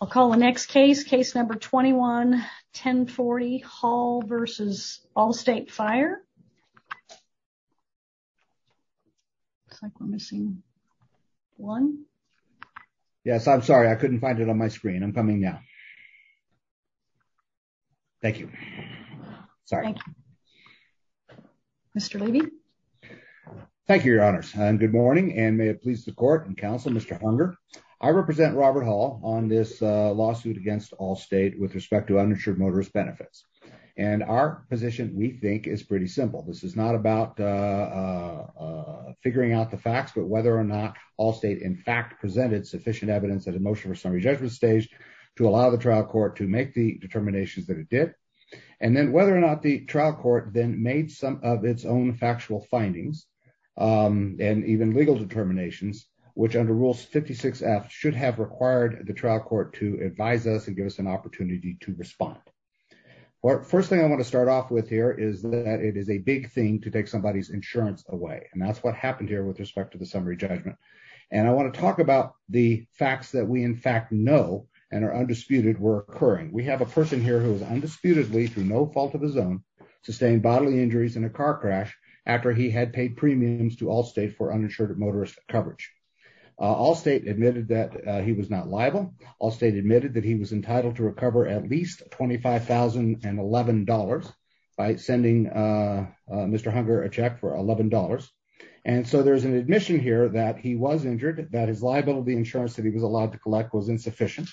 I'll call the next case, case number 21-1040, Hall v. Allstate Fire. Looks like we're missing one. Yes, I'm sorry, I couldn't find it on my screen. I'm coming now. Thank you. Sorry. Mr. Levy. Thank you, Your Honors, and good morning and may it please the court and counsel Mr. Hunger. I represent Robert Hall on this lawsuit against Allstate with respect to uninsured motorist benefits, and our position we think is pretty simple. This is not about figuring out the facts but whether or not Allstate in fact presented sufficient evidence that emotion or summary judgment stage to allow the trial court to make the determinations that it did. And then whether or not the trial court then made some of its own factual findings, and even legal determinations, which under rules 56 F should have required the trial court to advise us and give us an opportunity to respond. But first thing I want to start off with here is that it is a big thing to take somebody's insurance away and that's what happened here with respect to the summary judgment. And I want to talk about the facts that we in fact know, and are undisputed were occurring we have a person here who is undisputedly through no fault of his own sustained bodily injuries in a car crash. After he had paid premiums to Allstate for uninsured motorist coverage. Allstate admitted that he was not liable Allstate admitted that he was entitled to recover at least $25,011 by sending. Mr hunger a check for $11. And so there's an admission here that he was injured that is liable the insurance that he was allowed to collect was insufficient.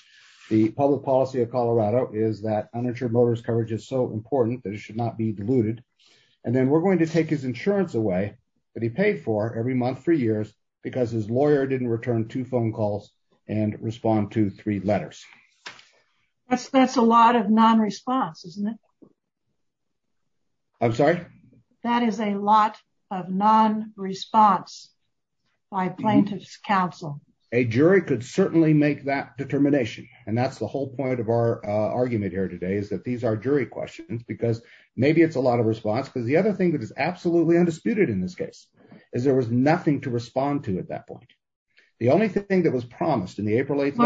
The public policy of Colorado is that uninsured motorist coverage is so important that it should not be diluted. And then we're going to take his insurance away, but he paid for every month for years, because his lawyer didn't return to phone calls and respond to three letters. That's that's a lot of non response isn't it. I'm sorry. That is a lot of non response by plaintiffs counsel, a jury could certainly make that determination, and that's the whole point of our argument here today is that these are jury questions because maybe it's a lot of response because the other thing that is absolutely undisputed in this case is there was nothing to respond to at that point. The only thing that was promised in the April 8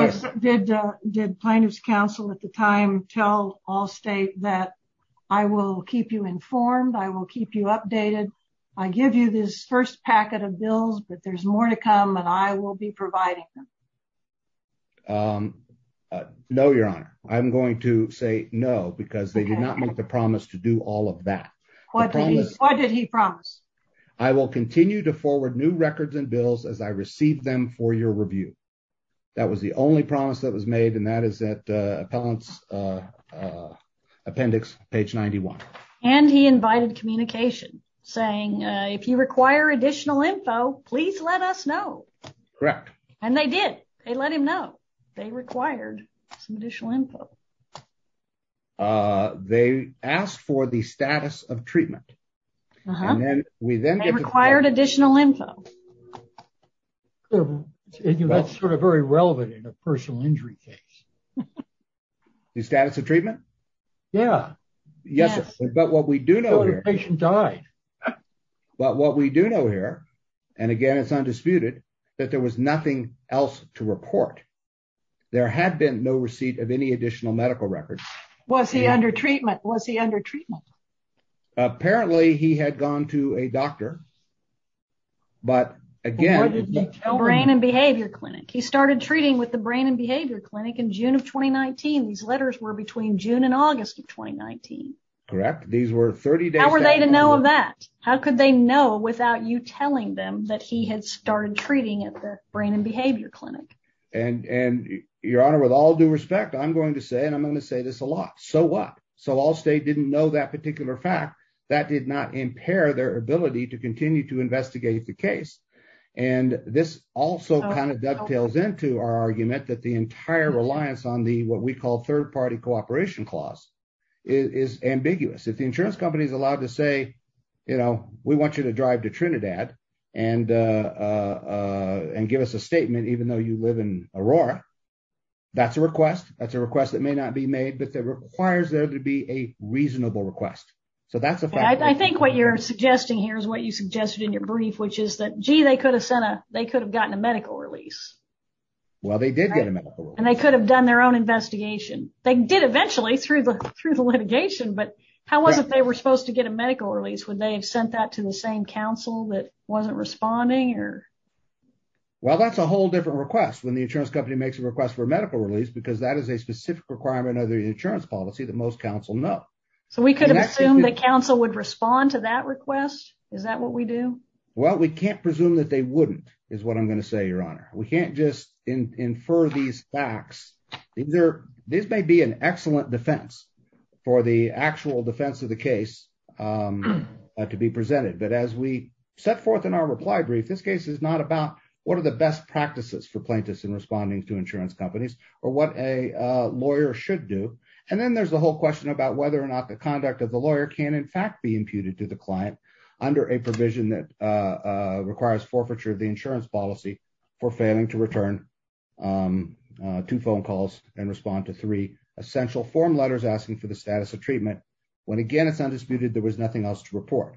did did plaintiffs counsel at the time, tell Allstate that I will keep you informed I will keep you updated. I give you this first packet of bills but there's more to come and I will be providing. No, Your Honor, I'm going to say no because they did not make the promise to do all of that. What did he promise. I will continue to forward new records and bills as I received them for your review. That was the only promise that was made and that is that appellants appendix, page 91, and he invited communication, saying, if you require additional info, please let us know. Correct. And they did, they let him know they required some additional info. They asked for the status of treatment. We then required additional info. That's sort of very relevant in a personal injury case. The status of treatment. Yeah, yes, but what we do know the patient died. But what we do know here, and again it's undisputed that there was nothing else to report. There had been no receipt of any additional medical records. Was he under treatment was he under treatment. Apparently he had gone to a doctor. But, again, brain and behavior clinic he started treating with the brain and behavior clinic in June of 2019 these letters were between June and August of 2019. Correct. These were 30 days. How were they to know of that. How could they know without you telling them that he had started treating at the brain and behavior clinic and and your honor with all due respect I'm going to say and I'm going to say this a lot. So what. So all state didn't know that particular fact that did not impair their ability to continue to investigate the case. And this also kind of dovetails into our argument that the entire reliance on the what we call third party cooperation clause is ambiguous if the insurance company is allowed to say, you know, we want you to drive to Trinidad, and, and give us a statement even though you live in Aurora. That's a request. That's a request that may not be made but that requires there to be a reasonable request. So that's I think what you're suggesting here is what you suggested in your brief which is that g they could have sent a, they could have gotten a medical release. Well they did get a medical and they could have done their own investigation, they did eventually through the, through the litigation but how was it they were supposed to get a medical release when they sent that to the same council that wasn't responding or. Well that's a whole different request when the insurance company makes a request for medical release because that is a specific requirement of the insurance policy that most Council know. So we could assume that Council would respond to that request. Is that what we do. Well we can't presume that they wouldn't is what I'm going to say Your Honor, we can't just infer these facts. These may be an excellent defense for the actual defense of the case to be presented but as we set forth in our reply brief this case is not about what are the best practices for plaintiffs in responding to insurance companies, or what a lawyer should do. And then there's the whole question about whether or not the conduct of the lawyer can in fact be imputed to the client under a provision that requires forfeiture of the insurance policy for failing to return to phone calls and respond to three essential form letters asking for the status of treatment. When again it's undisputed there was nothing else to report.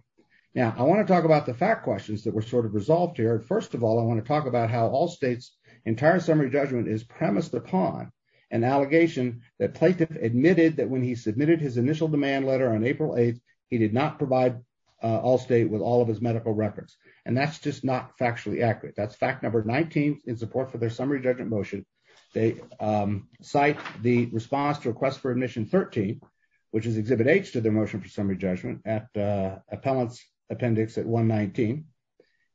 Now I want to talk about the fact questions that were sort of resolved here first of all I want to talk about how all states entire summary judgment is premised upon an allegation that plaintiff admitted that when he submitted his initial demand letter on April 8, he did not provide all state with all of his medical records, and that's just not factually accurate that's fact number 19 in support for their summary judgment motion. They cite the response to request for admission 13, which is Exhibit H to their motion for summary judgment at appellants appendix at 119,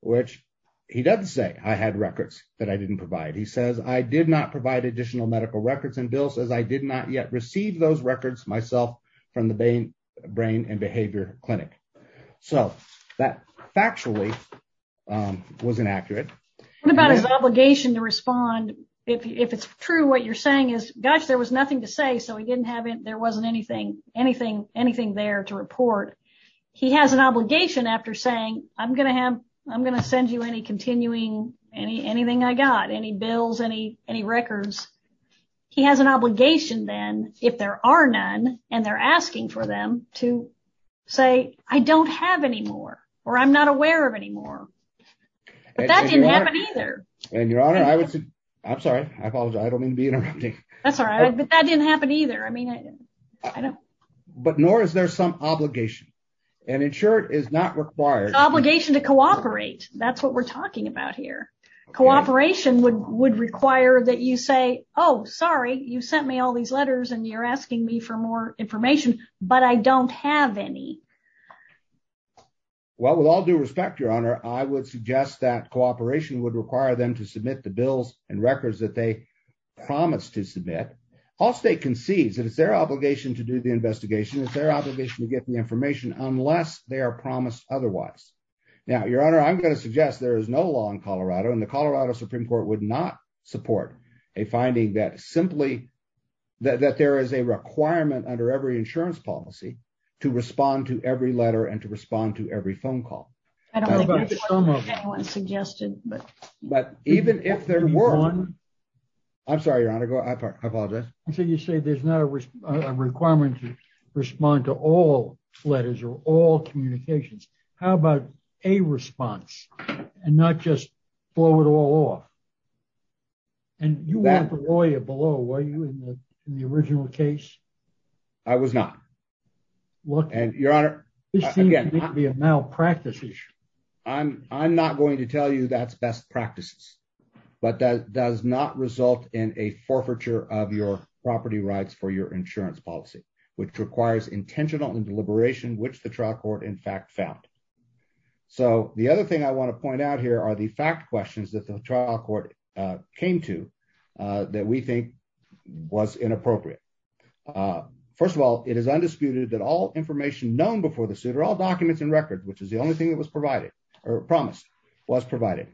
which he doesn't say I had records that I didn't provide he says I did not provide additional medical records and Bill says I did not yet received those records myself from the brain, brain and behavior clinic. So, that factually wasn't accurate about his obligation to respond. If it's true what you're saying is, gosh, there was nothing to say so we didn't have it there wasn't anything, anything, anything there to report. He has an obligation after saying, I'm going to have, I'm going to send you any continuing any anything I got any bills any any records. He has an obligation then, if there are none, and they're asking for them to say, I don't have any more, or I'm not aware of anymore. And your honor, I would say, I'm sorry, I apologize, I don't mean to be interrupting. That's all right, but that didn't happen either I mean, I know, but nor is there some obligation and ensure it is not required obligation to cooperate, that's what we're talking about here, cooperation would would require that you say, Oh, sorry, you sent me all these letters and you're asking me for more information, but I don't have any. Well, with all due respect, your honor, I would suggest that cooperation would require them to submit the bills and records that they promised to submit all state concedes that it's their obligation to do the investigation, it's their obligation to get the information, unless they are promised. Otherwise, now your honor I'm going to suggest there is no law in Colorado and the Colorado Supreme Court would not support a finding that simply that there is a requirement under every insurance policy to respond to every letter and to respond to every phone call. Suggested, but, but even if there were one. I'm sorry your honor go I apologize. So you say there's no requirement to respond to all letters or all communications. How about a response, and not just blow it all off. And you have a lawyer below where you in the original case. I was not. What and your honor. Again, the amount of practices. I'm, I'm not going to tell you that's best practices, but that does not result in a forfeiture of your property rights for your insurance policy, which requires intentional and deliberation which the trial court in fact found. So the other thing I want to point out here are the fact questions that the trial court came to that we think was inappropriate. First of all, it is undisputed that all information known before the suit or all documents and records which is the only thing that was provided or promised was provided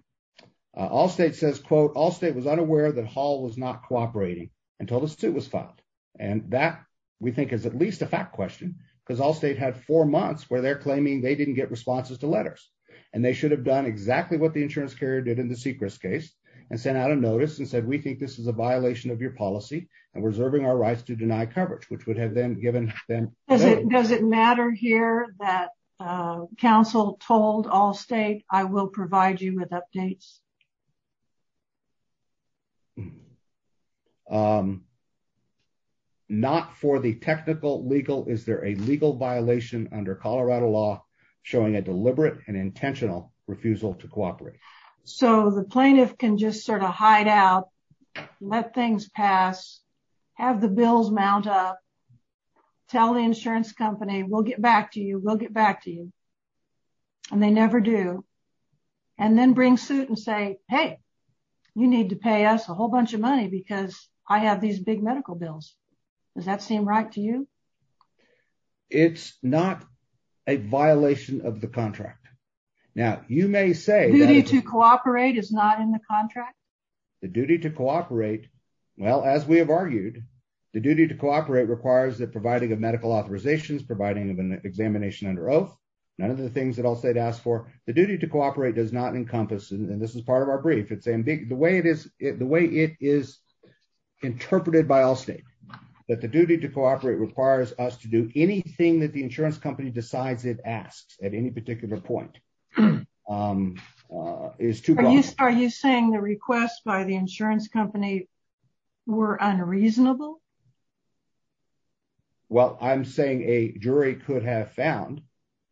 all state says quote all state was unaware that Hall was not cooperating until the suit was filed, and that we think is at least a fact question, because all state had four months where they're claiming they didn't get responses to letters, and they should have done exactly what the insurance carrier did in the secrets case and sent out a notice and said we think this is a violation of your policy and reserving our rights to deny coverage which would have them given them. Does it matter here that council told all state, I will provide you with updates. Not for the technical legal is there a legal violation under Colorado law, showing a deliberate and intentional refusal to cooperate. So the plaintiff can just sort of hide out. Let things pass, have the bills mount up. Tell the insurance company will get back to you will get back to you. And they never do. And then bring suit and say, Hey, you need to pay us a whole bunch of money because I have these big medical bills. Does that seem right to you. It's not a violation of the contract. Now, you may say to cooperate is not in the contract. The duty to cooperate. Well, as we have argued, the duty to cooperate requires that providing a medical authorizations providing an examination under oath. None of the things that I'll say to ask for the duty to cooperate does not encompass and this is part of our brief it's a big the way it is it the way it is interpreted by all state that the duty to cooperate requires us to do anything that the insurance company decides it asks at any particular point is to are you saying the request by the insurance company were unreasonable. Well, I'm saying a jury could have found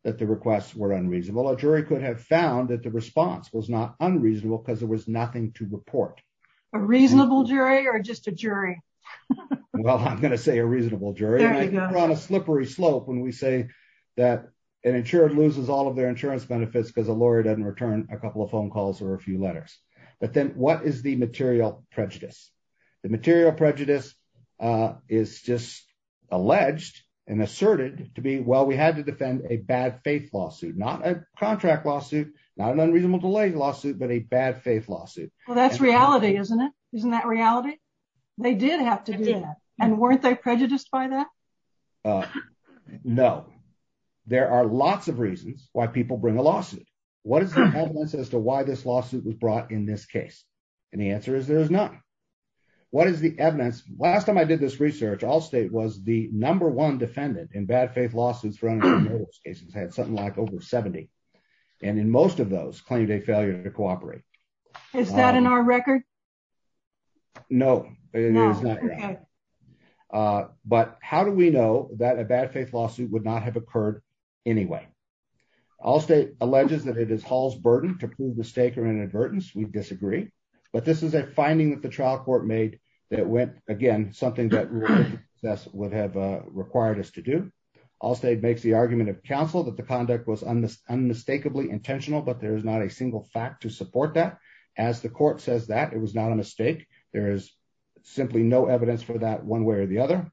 that the requests were unreasonable a jury could have found that the response was not unreasonable because there was nothing to report a reasonable jury or just a jury. Well, I'm going to say a reasonable jury slippery slope when we say that an insured loses all of their insurance benefits because a lawyer doesn't return a couple of phone calls or a few letters, but then what is the material prejudice. The material prejudice is just alleged and asserted to be well we had to defend a bad faith lawsuit not a contract lawsuit, not an unreasonable delay lawsuit but a bad faith lawsuit. Well that's reality isn't it isn't that reality. They did have to do that. And weren't they prejudiced by that. No. There are lots of reasons why people bring a lawsuit. What is the evidence as to why this lawsuit was brought in this case. And the answer is there is not. What is the evidence, last time I did this research all state was the number one defendant in bad faith lawsuits for cases had something like over 70. And in most of those claimed a failure to cooperate. Is that in our record. No, no. But how do we know that a bad faith lawsuit would not have occurred. Anyway, all state alleges that it is halls burden to prove mistake or inadvertence we disagree. But this is a finding that the trial court made that went again, something that would have required us to do all state makes the argument of counsel that the conduct was on this unmistakably intentional but there's not a single fact to support that as the court says that it was not a mistake. There is simply no evidence for that one way or the other.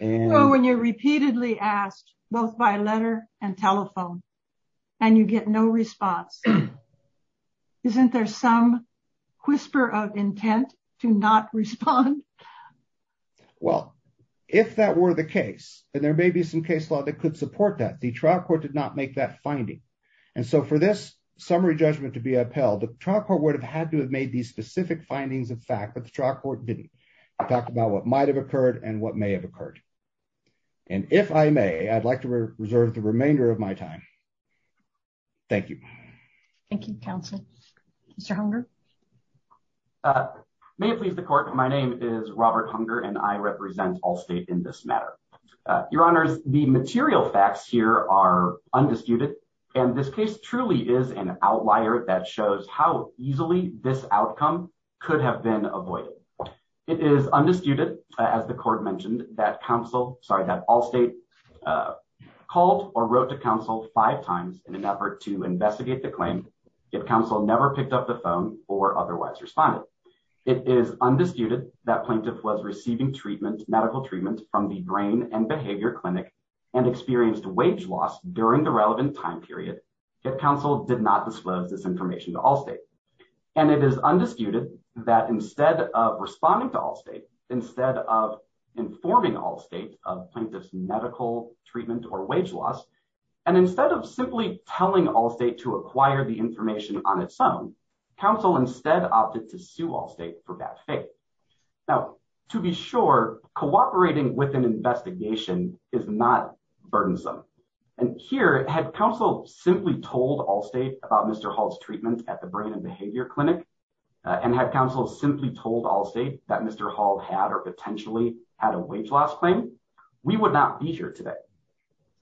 And when you're repeatedly asked, both by letter and telephone, and you get no response. Isn't there some whisper of intent to not respond. Well, if that were the case, and there may be some case law that could support that the trial court did not make that finding. And so for this summary judgment to be upheld the trial court would have had to have made these specific findings of fact but the trial court didn't talk about what might have occurred and what may have occurred. And if I may, I'd like to reserve the remainder of my time. Thank you. Thank you. Mr. May please the court. My name is Robert hunger and I represent all state in this matter. Your Honors, the material facts here are undisputed, and this case truly is an outlier that shows how easily this outcome could have been avoided. It is undisputed, as the court mentioned that counsel, sorry that all state called or wrote to counsel five times in an effort to investigate the claim. If counsel never picked up the phone, or otherwise responded. It is undisputed that plaintiff was receiving treatment medical treatment from the brain and behavior clinic and experienced wage loss during the relevant time period. If counsel did not disclose this information to all state. And it is undisputed that instead of responding to all state, instead of informing all state of plaintiffs medical treatment or wage loss. And instead of simply telling all state to acquire the information on its own council instead opted to sue all state for bad faith. Now, to be sure, cooperating with an investigation is not burdensome. And here, had counsel simply told all state about Mr. Hall's treatment at the brain and behavior clinic and had counsel simply told all state that Mr. Hall had or potentially had a wage loss claim, we would not be here today.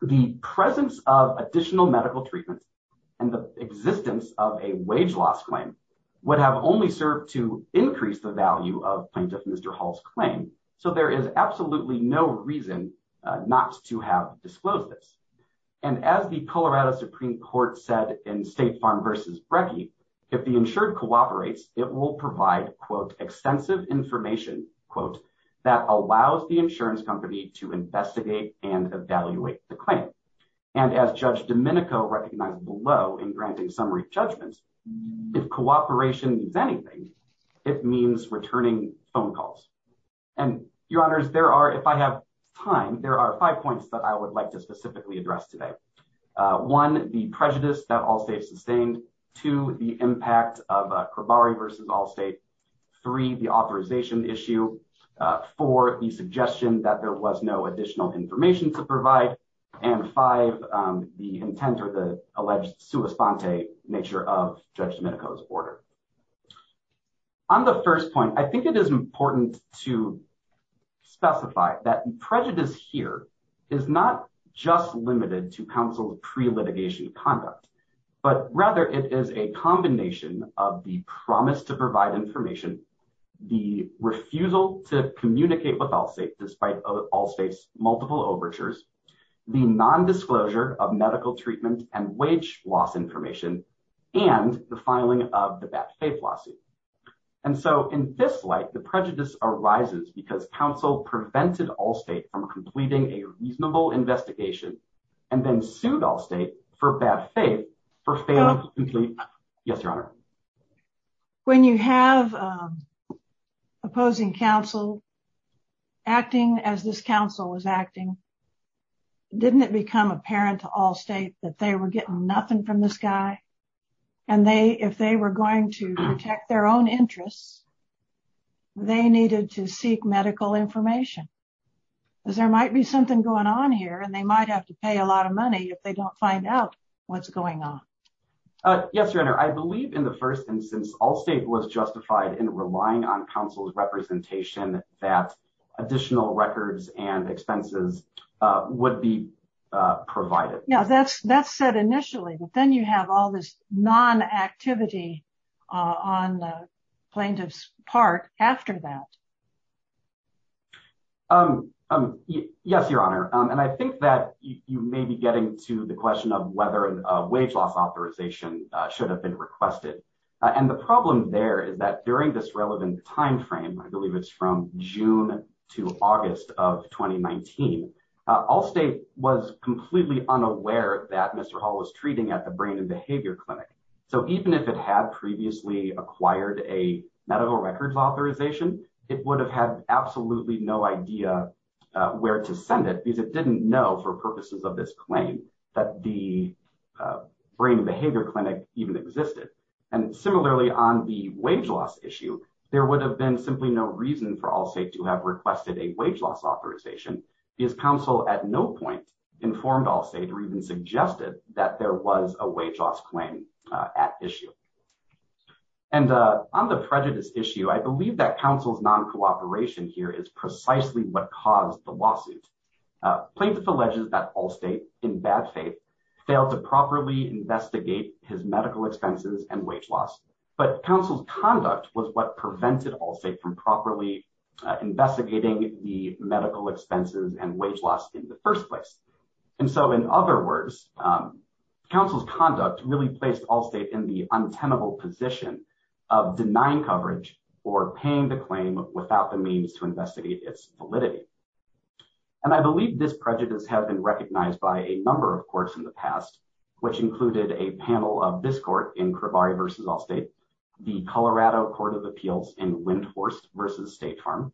The presence of additional medical treatment and the existence of a wage loss claim would have only served to increase the value of plaintiff Mr Hall's claim. So there is absolutely no reason not to have disclosed this. And as the Colorado Supreme Court said in State Farm versus Brecky, if the insured cooperates, it will provide quote extensive information, quote, that allows the insurance company to investigate and evaluate the claim. And as Judge Domenico recognized below in granting summary judgments, if cooperation means anything, it means returning phone calls. And, Your Honors, there are, if I have time, there are five points that I would like to specifically address today. One, the prejudice that all states sustained. Two, the impact of Cravari versus Allstate. Three, the authorization issue. Four, the suggestion that there was no additional information to provide. And five, the intent or the alleged sua sponte nature of Judge Domenico's order. On the first point, I think it is important to specify that prejudice here is not just limited to counsel pre-litigation conduct, but rather it is a combination of the promise to provide information, the refusal to communicate with Allstate despite Allstate's multiple overtures, the nondisclosure of medical treatment and wage loss information, and the filing of the bad faith lawsuit. And so in this light, the prejudice arises because counsel prevented Allstate from completing a reasonable investigation and then sued Allstate for bad faith for failing to complete. Yes, Your Honor. When you have opposing counsel acting as this counsel was acting, didn't it become apparent to Allstate that they were getting nothing from this guy? And they, if they were going to protect their own interests, they needed to seek medical information. Because there might be something going on here and they might have to pay a lot of money if they don't find out what's going on. Yes, Your Honor, I believe in the first instance Allstate was justified in relying on counsel's representation that additional records and expenses would be provided. Yeah, that's that's said initially, but then you have all this non-activity on plaintiff's part after that. Yes, Your Honor, and I think that you may be getting to the question of whether a wage loss authorization should have been requested. And the problem there is that during this relevant timeframe, I believe it's from June to August of 2019, Allstate was completely unaware that Mr. Hall was treating at the brain and behavior clinic. So even if it had previously acquired a medical records authorization, it would have had absolutely no idea where to send it because it didn't know for purposes of this claim that the brain and behavior clinic even existed. And similarly on the wage loss issue, there would have been simply no reason for Allstate to have requested a wage loss authorization. Because counsel at no point informed Allstate or even suggested that there was a wage loss claim at issue. And on the prejudice issue, I believe that counsel's non-cooperation here is precisely what caused the lawsuit. Plaintiff alleges that Allstate, in bad faith, failed to properly investigate his medical expenses and wage loss. But counsel's conduct was what prevented Allstate from properly investigating the medical expenses and wage loss in the first place. And so in other words, counsel's conduct really placed Allstate in the untenable position of denying coverage or paying the claim without the means to investigate its validity. And I believe this prejudice has been recognized by a number of courts in the past, which included a panel of this court in Cravari v. Allstate, the Colorado Court of Appeals in Windhorse v. State Farm,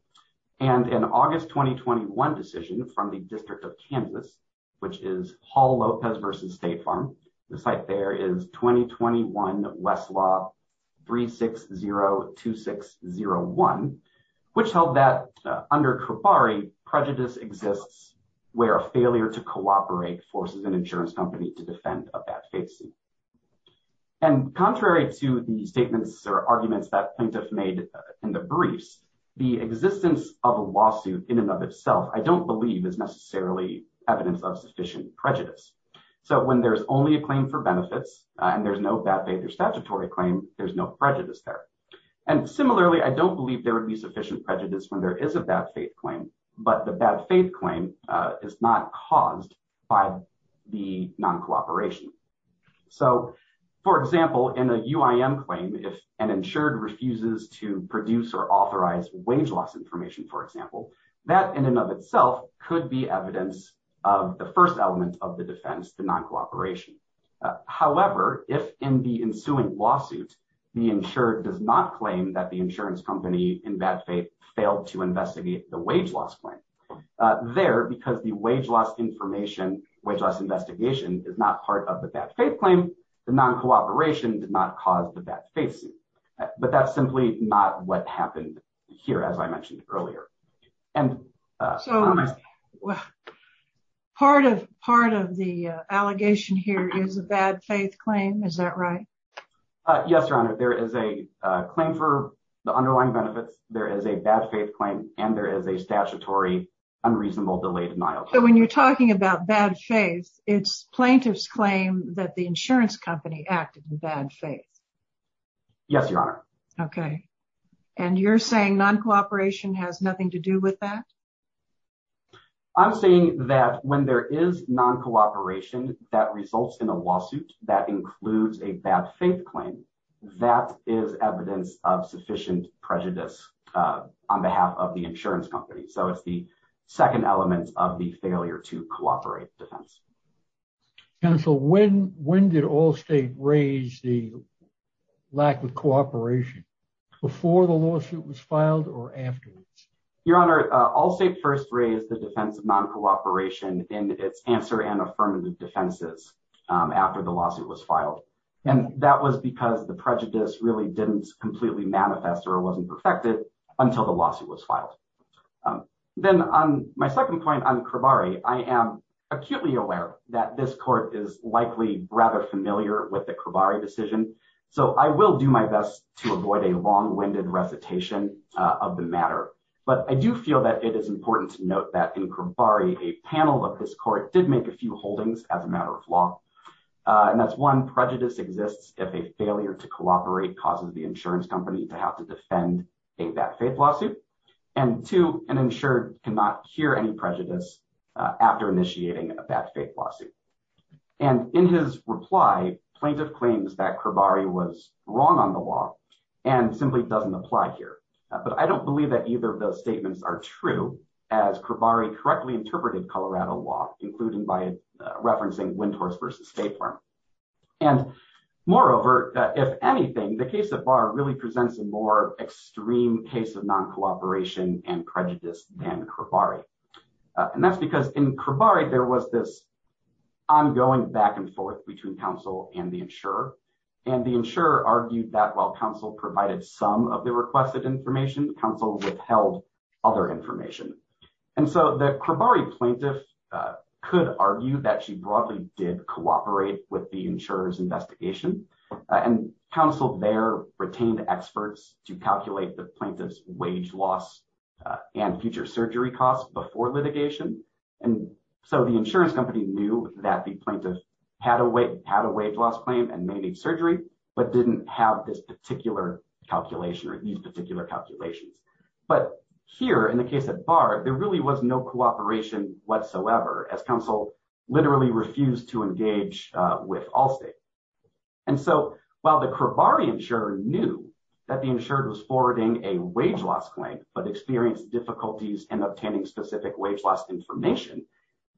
and an August 2021 decision from the District of Kansas, which is Hall-Lopez v. State Farm. The site there is 2021 Westlaw 3602601, which held that under Cravari, prejudice exists where a failure to cooperate forces an insurance company to defend a bad faith suit. And contrary to the statements or arguments that plaintiff made in the briefs, the existence of a lawsuit in and of itself, I don't believe is necessarily evidence of sufficient prejudice. So when there's only a claim for benefits, and there's no bad faith or statutory claim, there's no prejudice there. And similarly, I don't believe there would be sufficient prejudice when there is a bad faith claim, but the bad faith claim is not caused by the non-cooperation. So, for example, in a UIM claim, if an insured refuses to produce or authorize wage loss information, for example, that in and of itself could be evidence of the first element of the defense, the non-cooperation. However, if in the ensuing lawsuit, the insured does not claim that the insurance company in bad faith failed to investigate the wage loss claim, there, because the wage loss information, wage loss investigation is not part of the bad faith claim, the non-cooperation did not cause the bad faith suit. But that's simply not what happened here, as I mentioned earlier. So, part of the allegation here is a bad faith claim, is that right? Yes, Your Honor, there is a claim for the underlying benefits, there is a bad faith claim, and there is a statutory unreasonable delayed denial. So when you're talking about bad faith, it's plaintiff's claim that the insurance company acted in bad faith. Yes, Your Honor. Okay, and you're saying non-cooperation has nothing to do with that? I'm saying that when there is non-cooperation that results in a lawsuit that includes a bad faith claim, that is evidence of sufficient prejudice on behalf of the insurance company. So it's the second element of the failure to cooperate defense. Counsel, when did Allstate raise the lack of cooperation, before the lawsuit was filed or afterwards? Your Honor, Allstate first raised the defense of non-cooperation in its answer and affirmative defenses after the lawsuit was filed. And that was because the prejudice really didn't completely manifest or wasn't perfected until the lawsuit was filed. Then on my second point on Cravari, I am acutely aware that this court is likely rather familiar with the Cravari decision. So I will do my best to avoid a long-winded recitation of the matter. But I do feel that it is important to note that in Cravari, a panel of this court did make a few holdings as a matter of law. And that's one, prejudice exists if a failure to cooperate causes the insurance company to have to defend a bad faith lawsuit. And two, an insured cannot hear any prejudice after initiating a bad faith lawsuit. And in his reply, plaintiff claims that Cravari was wrong on the law and simply doesn't apply here. But I don't believe that either of those statements are true, as Cravari correctly interpreted Colorado law, including by referencing Windhorse v. State Farm. And moreover, if anything, the case of Barr really presents a more extreme case of non-cooperation and prejudice than Cravari. And that's because in Cravari, there was this ongoing back and forth between counsel and the insurer. And the insurer argued that while counsel provided some of the requested information, counsel withheld other information. And so the Cravari plaintiff could argue that she broadly did cooperate with the insurer's investigation. And counsel there retained experts to calculate the plaintiff's wage loss and future surgery costs before litigation. And so the insurance company knew that the plaintiff had a wage loss claim and may need surgery, but didn't have this particular calculation or these particular calculations. But here in the case of Barr, there really was no cooperation whatsoever as counsel literally refused to engage with Allstate. And so while the Cravari insurer knew that the insured was forwarding a wage loss claim, but experienced difficulties in obtaining specific wage loss information,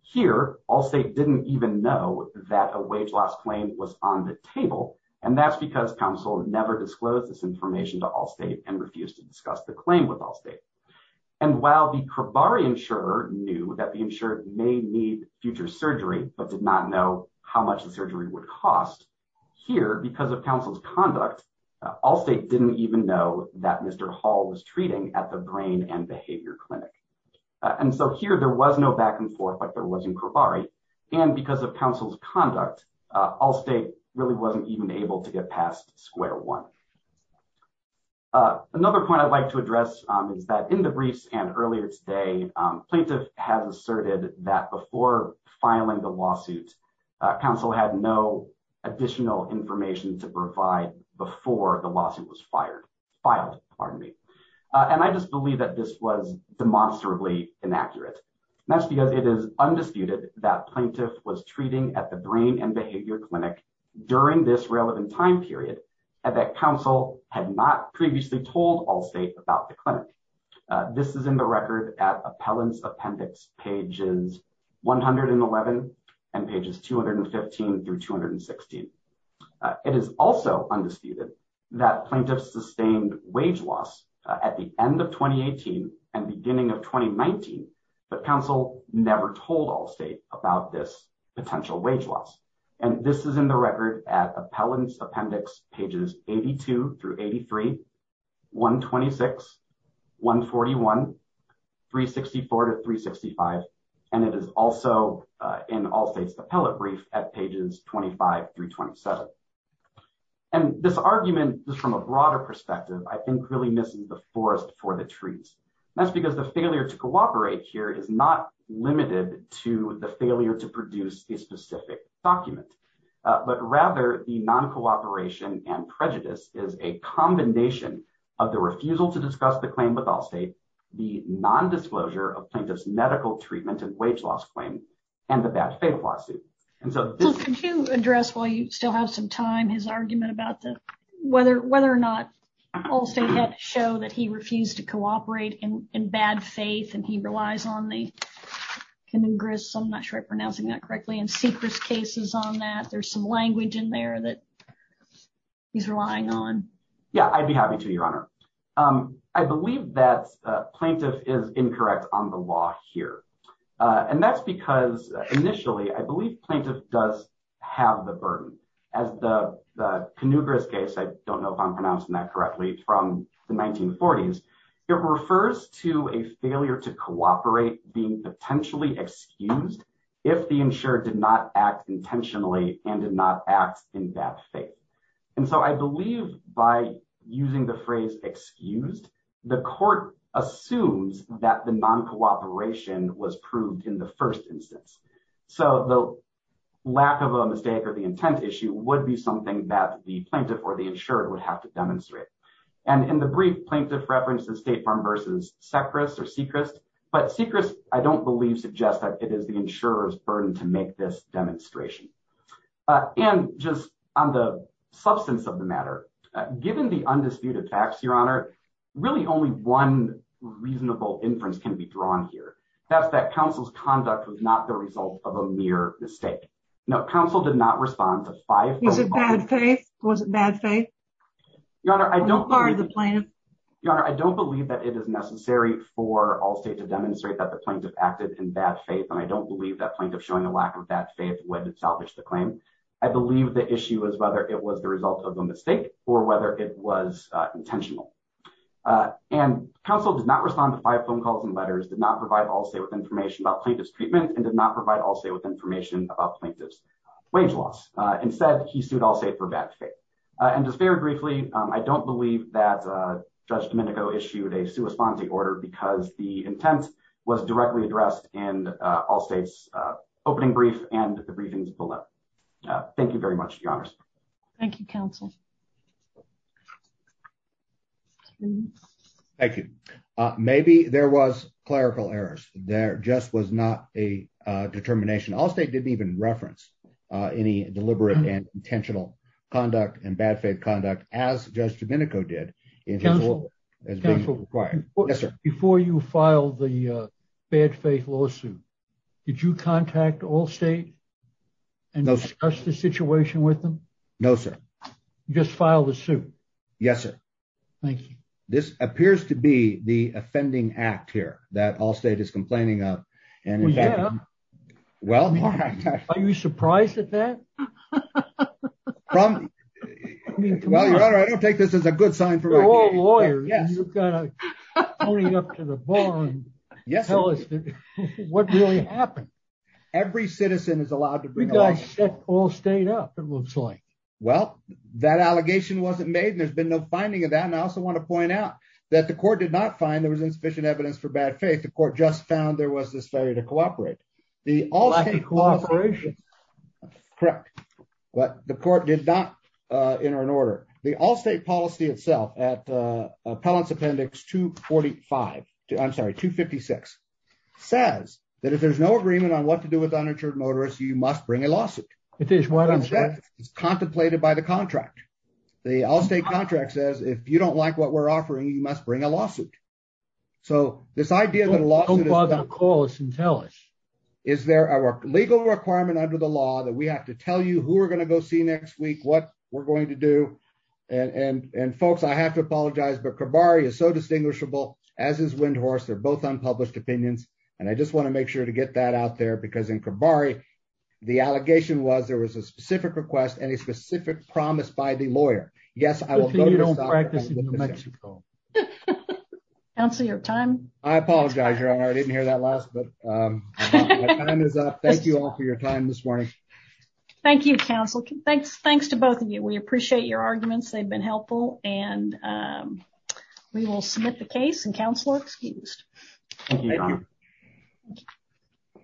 here Allstate didn't even know that a wage loss claim was on the table. And that's because counsel never disclosed this information to Allstate and refused to discuss the claim with Allstate. And while the Cravari insurer knew that the insured may need future surgery, but did not know how much the surgery would cost, here, because of counsel's conduct, Allstate didn't even know that Mr. Hall was treating at the brain and behavior clinic. And so here there was no back and forth like there was in Cravari. And because of counsel's conduct, Allstate really wasn't even able to get past square one. Another point I'd like to address is that in the briefs and earlier today, plaintiff has asserted that before filing the lawsuit, counsel had no additional information to provide before the lawsuit was filed. And I just believe that this was demonstrably inaccurate. That's because it is undisputed that plaintiff was treating at the brain and behavior clinic during this relevant time period, and that counsel had not previously told Allstate about the clinic. This is in the record at Appellant's Appendix pages 111 and pages 215 through 216. It is also undisputed that plaintiff sustained wage loss at the end of 2018 and beginning of 2019, but counsel never told Allstate about this potential wage loss. And this is in the record at Appellant's Appendix pages 82 through 83, 126, 141, 364 to 365. And it is also in Allstate's appellate brief at pages 25 through 27. And this argument is from a broader perspective, I think, really missing the forest for the trees. That's because the failure to cooperate here is not limited to the failure to produce a specific document, but rather the non-cooperation and prejudice is a combination of the refusal to discuss the claim with Allstate, the nondisclosure of plaintiff's medical treatment and wage loss claim, and the bad faith lawsuit. Could you address, while you still have some time, his argument about whether or not Allstate had to show that he refused to cooperate in bad faith and he relies on the congress, I'm not sure I'm pronouncing that correctly, and secret cases on that. There's some language in there that he's relying on. Yeah, I'd be happy to, Your Honor. I believe that plaintiff is incorrect on the law here. And that's because, initially, I believe plaintiff does have the burden. As the Knugras case, I don't know if I'm pronouncing that correctly, from the 1940s, it refers to a failure to cooperate being potentially excused if the insured did not act intentionally and did not act in bad faith. And so I believe by using the phrase excused, the court assumes that the non-cooperation was proved in the first instance. So the lack of a mistake or the intent issue would be something that the plaintiff or the insured would have to demonstrate. And in the brief, plaintiff references State Farm versus Sechrist or Sechrist. But Sechrist, I don't believe, suggests that it is the insurer's burden to make this demonstration. And just on the substance of the matter, given the undisputed facts, Your Honor, really only one reasonable inference can be drawn here. That's that counsel's conduct was not the result of a mere mistake. No, counsel did not respond to five- Was it bad faith? Your Honor, I don't believe that it is necessary for all State to demonstrate that the plaintiff acted in bad faith. And I don't believe that plaintiff showing a lack of that faith would salvage the claim. I believe the issue is whether it was the result of a mistake or whether it was intentional. And counsel did not respond to five phone calls and letters, did not provide all State with information about plaintiff's treatment, and did not provide all State with information about plaintiff's wage loss. Instead, he sued all State for bad faith. And just very briefly, I don't believe that Judge Domenico issued a sua sponte order because the intent was directly addressed in all State's opening brief and the briefings below. Thank you very much, Your Honor. Thank you, counsel. Thank you. Maybe there was clerical errors. There just was not a determination. All State didn't even reference any deliberate and intentional conduct and bad faith conduct as Judge Domenico did. Counsel, before you filed the bad faith lawsuit, did you contact all State and discuss the situation with them? No, sir. You just filed a suit? Yes, sir. Thank you. This appears to be the offending act here that all State is complaining of. Well, yeah. Are you surprised at that? Well, Your Honor, I don't take this as a good sign for me. You're all lawyers. You've got to pony up to the bar and tell us what really happened. Every citizen is allowed to bring a lawsuit. You guys set all State up, it looks like. Well, that allegation wasn't made and there's been no finding of that. And I also want to point out that the court did not find there was insufficient evidence for bad faith. The court just found there was this failure to cooperate. Lack of cooperation. Correct. But the court did not enter an order. The all State policy itself at Appellant's Appendix 245, I'm sorry, 256, says that if there's no agreement on what to do with uninsured motorists, you must bring a lawsuit. It is what I'm saying. It's contemplated by the contract. The all State contract says if you don't like what we're offering, you must bring a lawsuit. So this idea that a lawsuit is... Don't bother to call us and tell us. Is there a legal requirement under the law that we have to tell you who we're going to go see next week, what we're going to do? And folks, I have to apologize, but Cabarri is so distinguishable as is Windhorse. They're both unpublished opinions. And I just want to make sure to get that out there, because in Cabarri, the allegation was there was a specific request and a specific promise by the lawyer. Yes, I will. You don't practice in Mexico. Counselor, you have time? I apologize. I didn't hear that last, but my time is up. Thank you all for your time this morning. Thank you, Counselor. Thanks. Thanks to both of you. We appreciate your arguments. They've been helpful. And we will submit the case, and Counselor excused. Thank you, Your Honor. Thank you.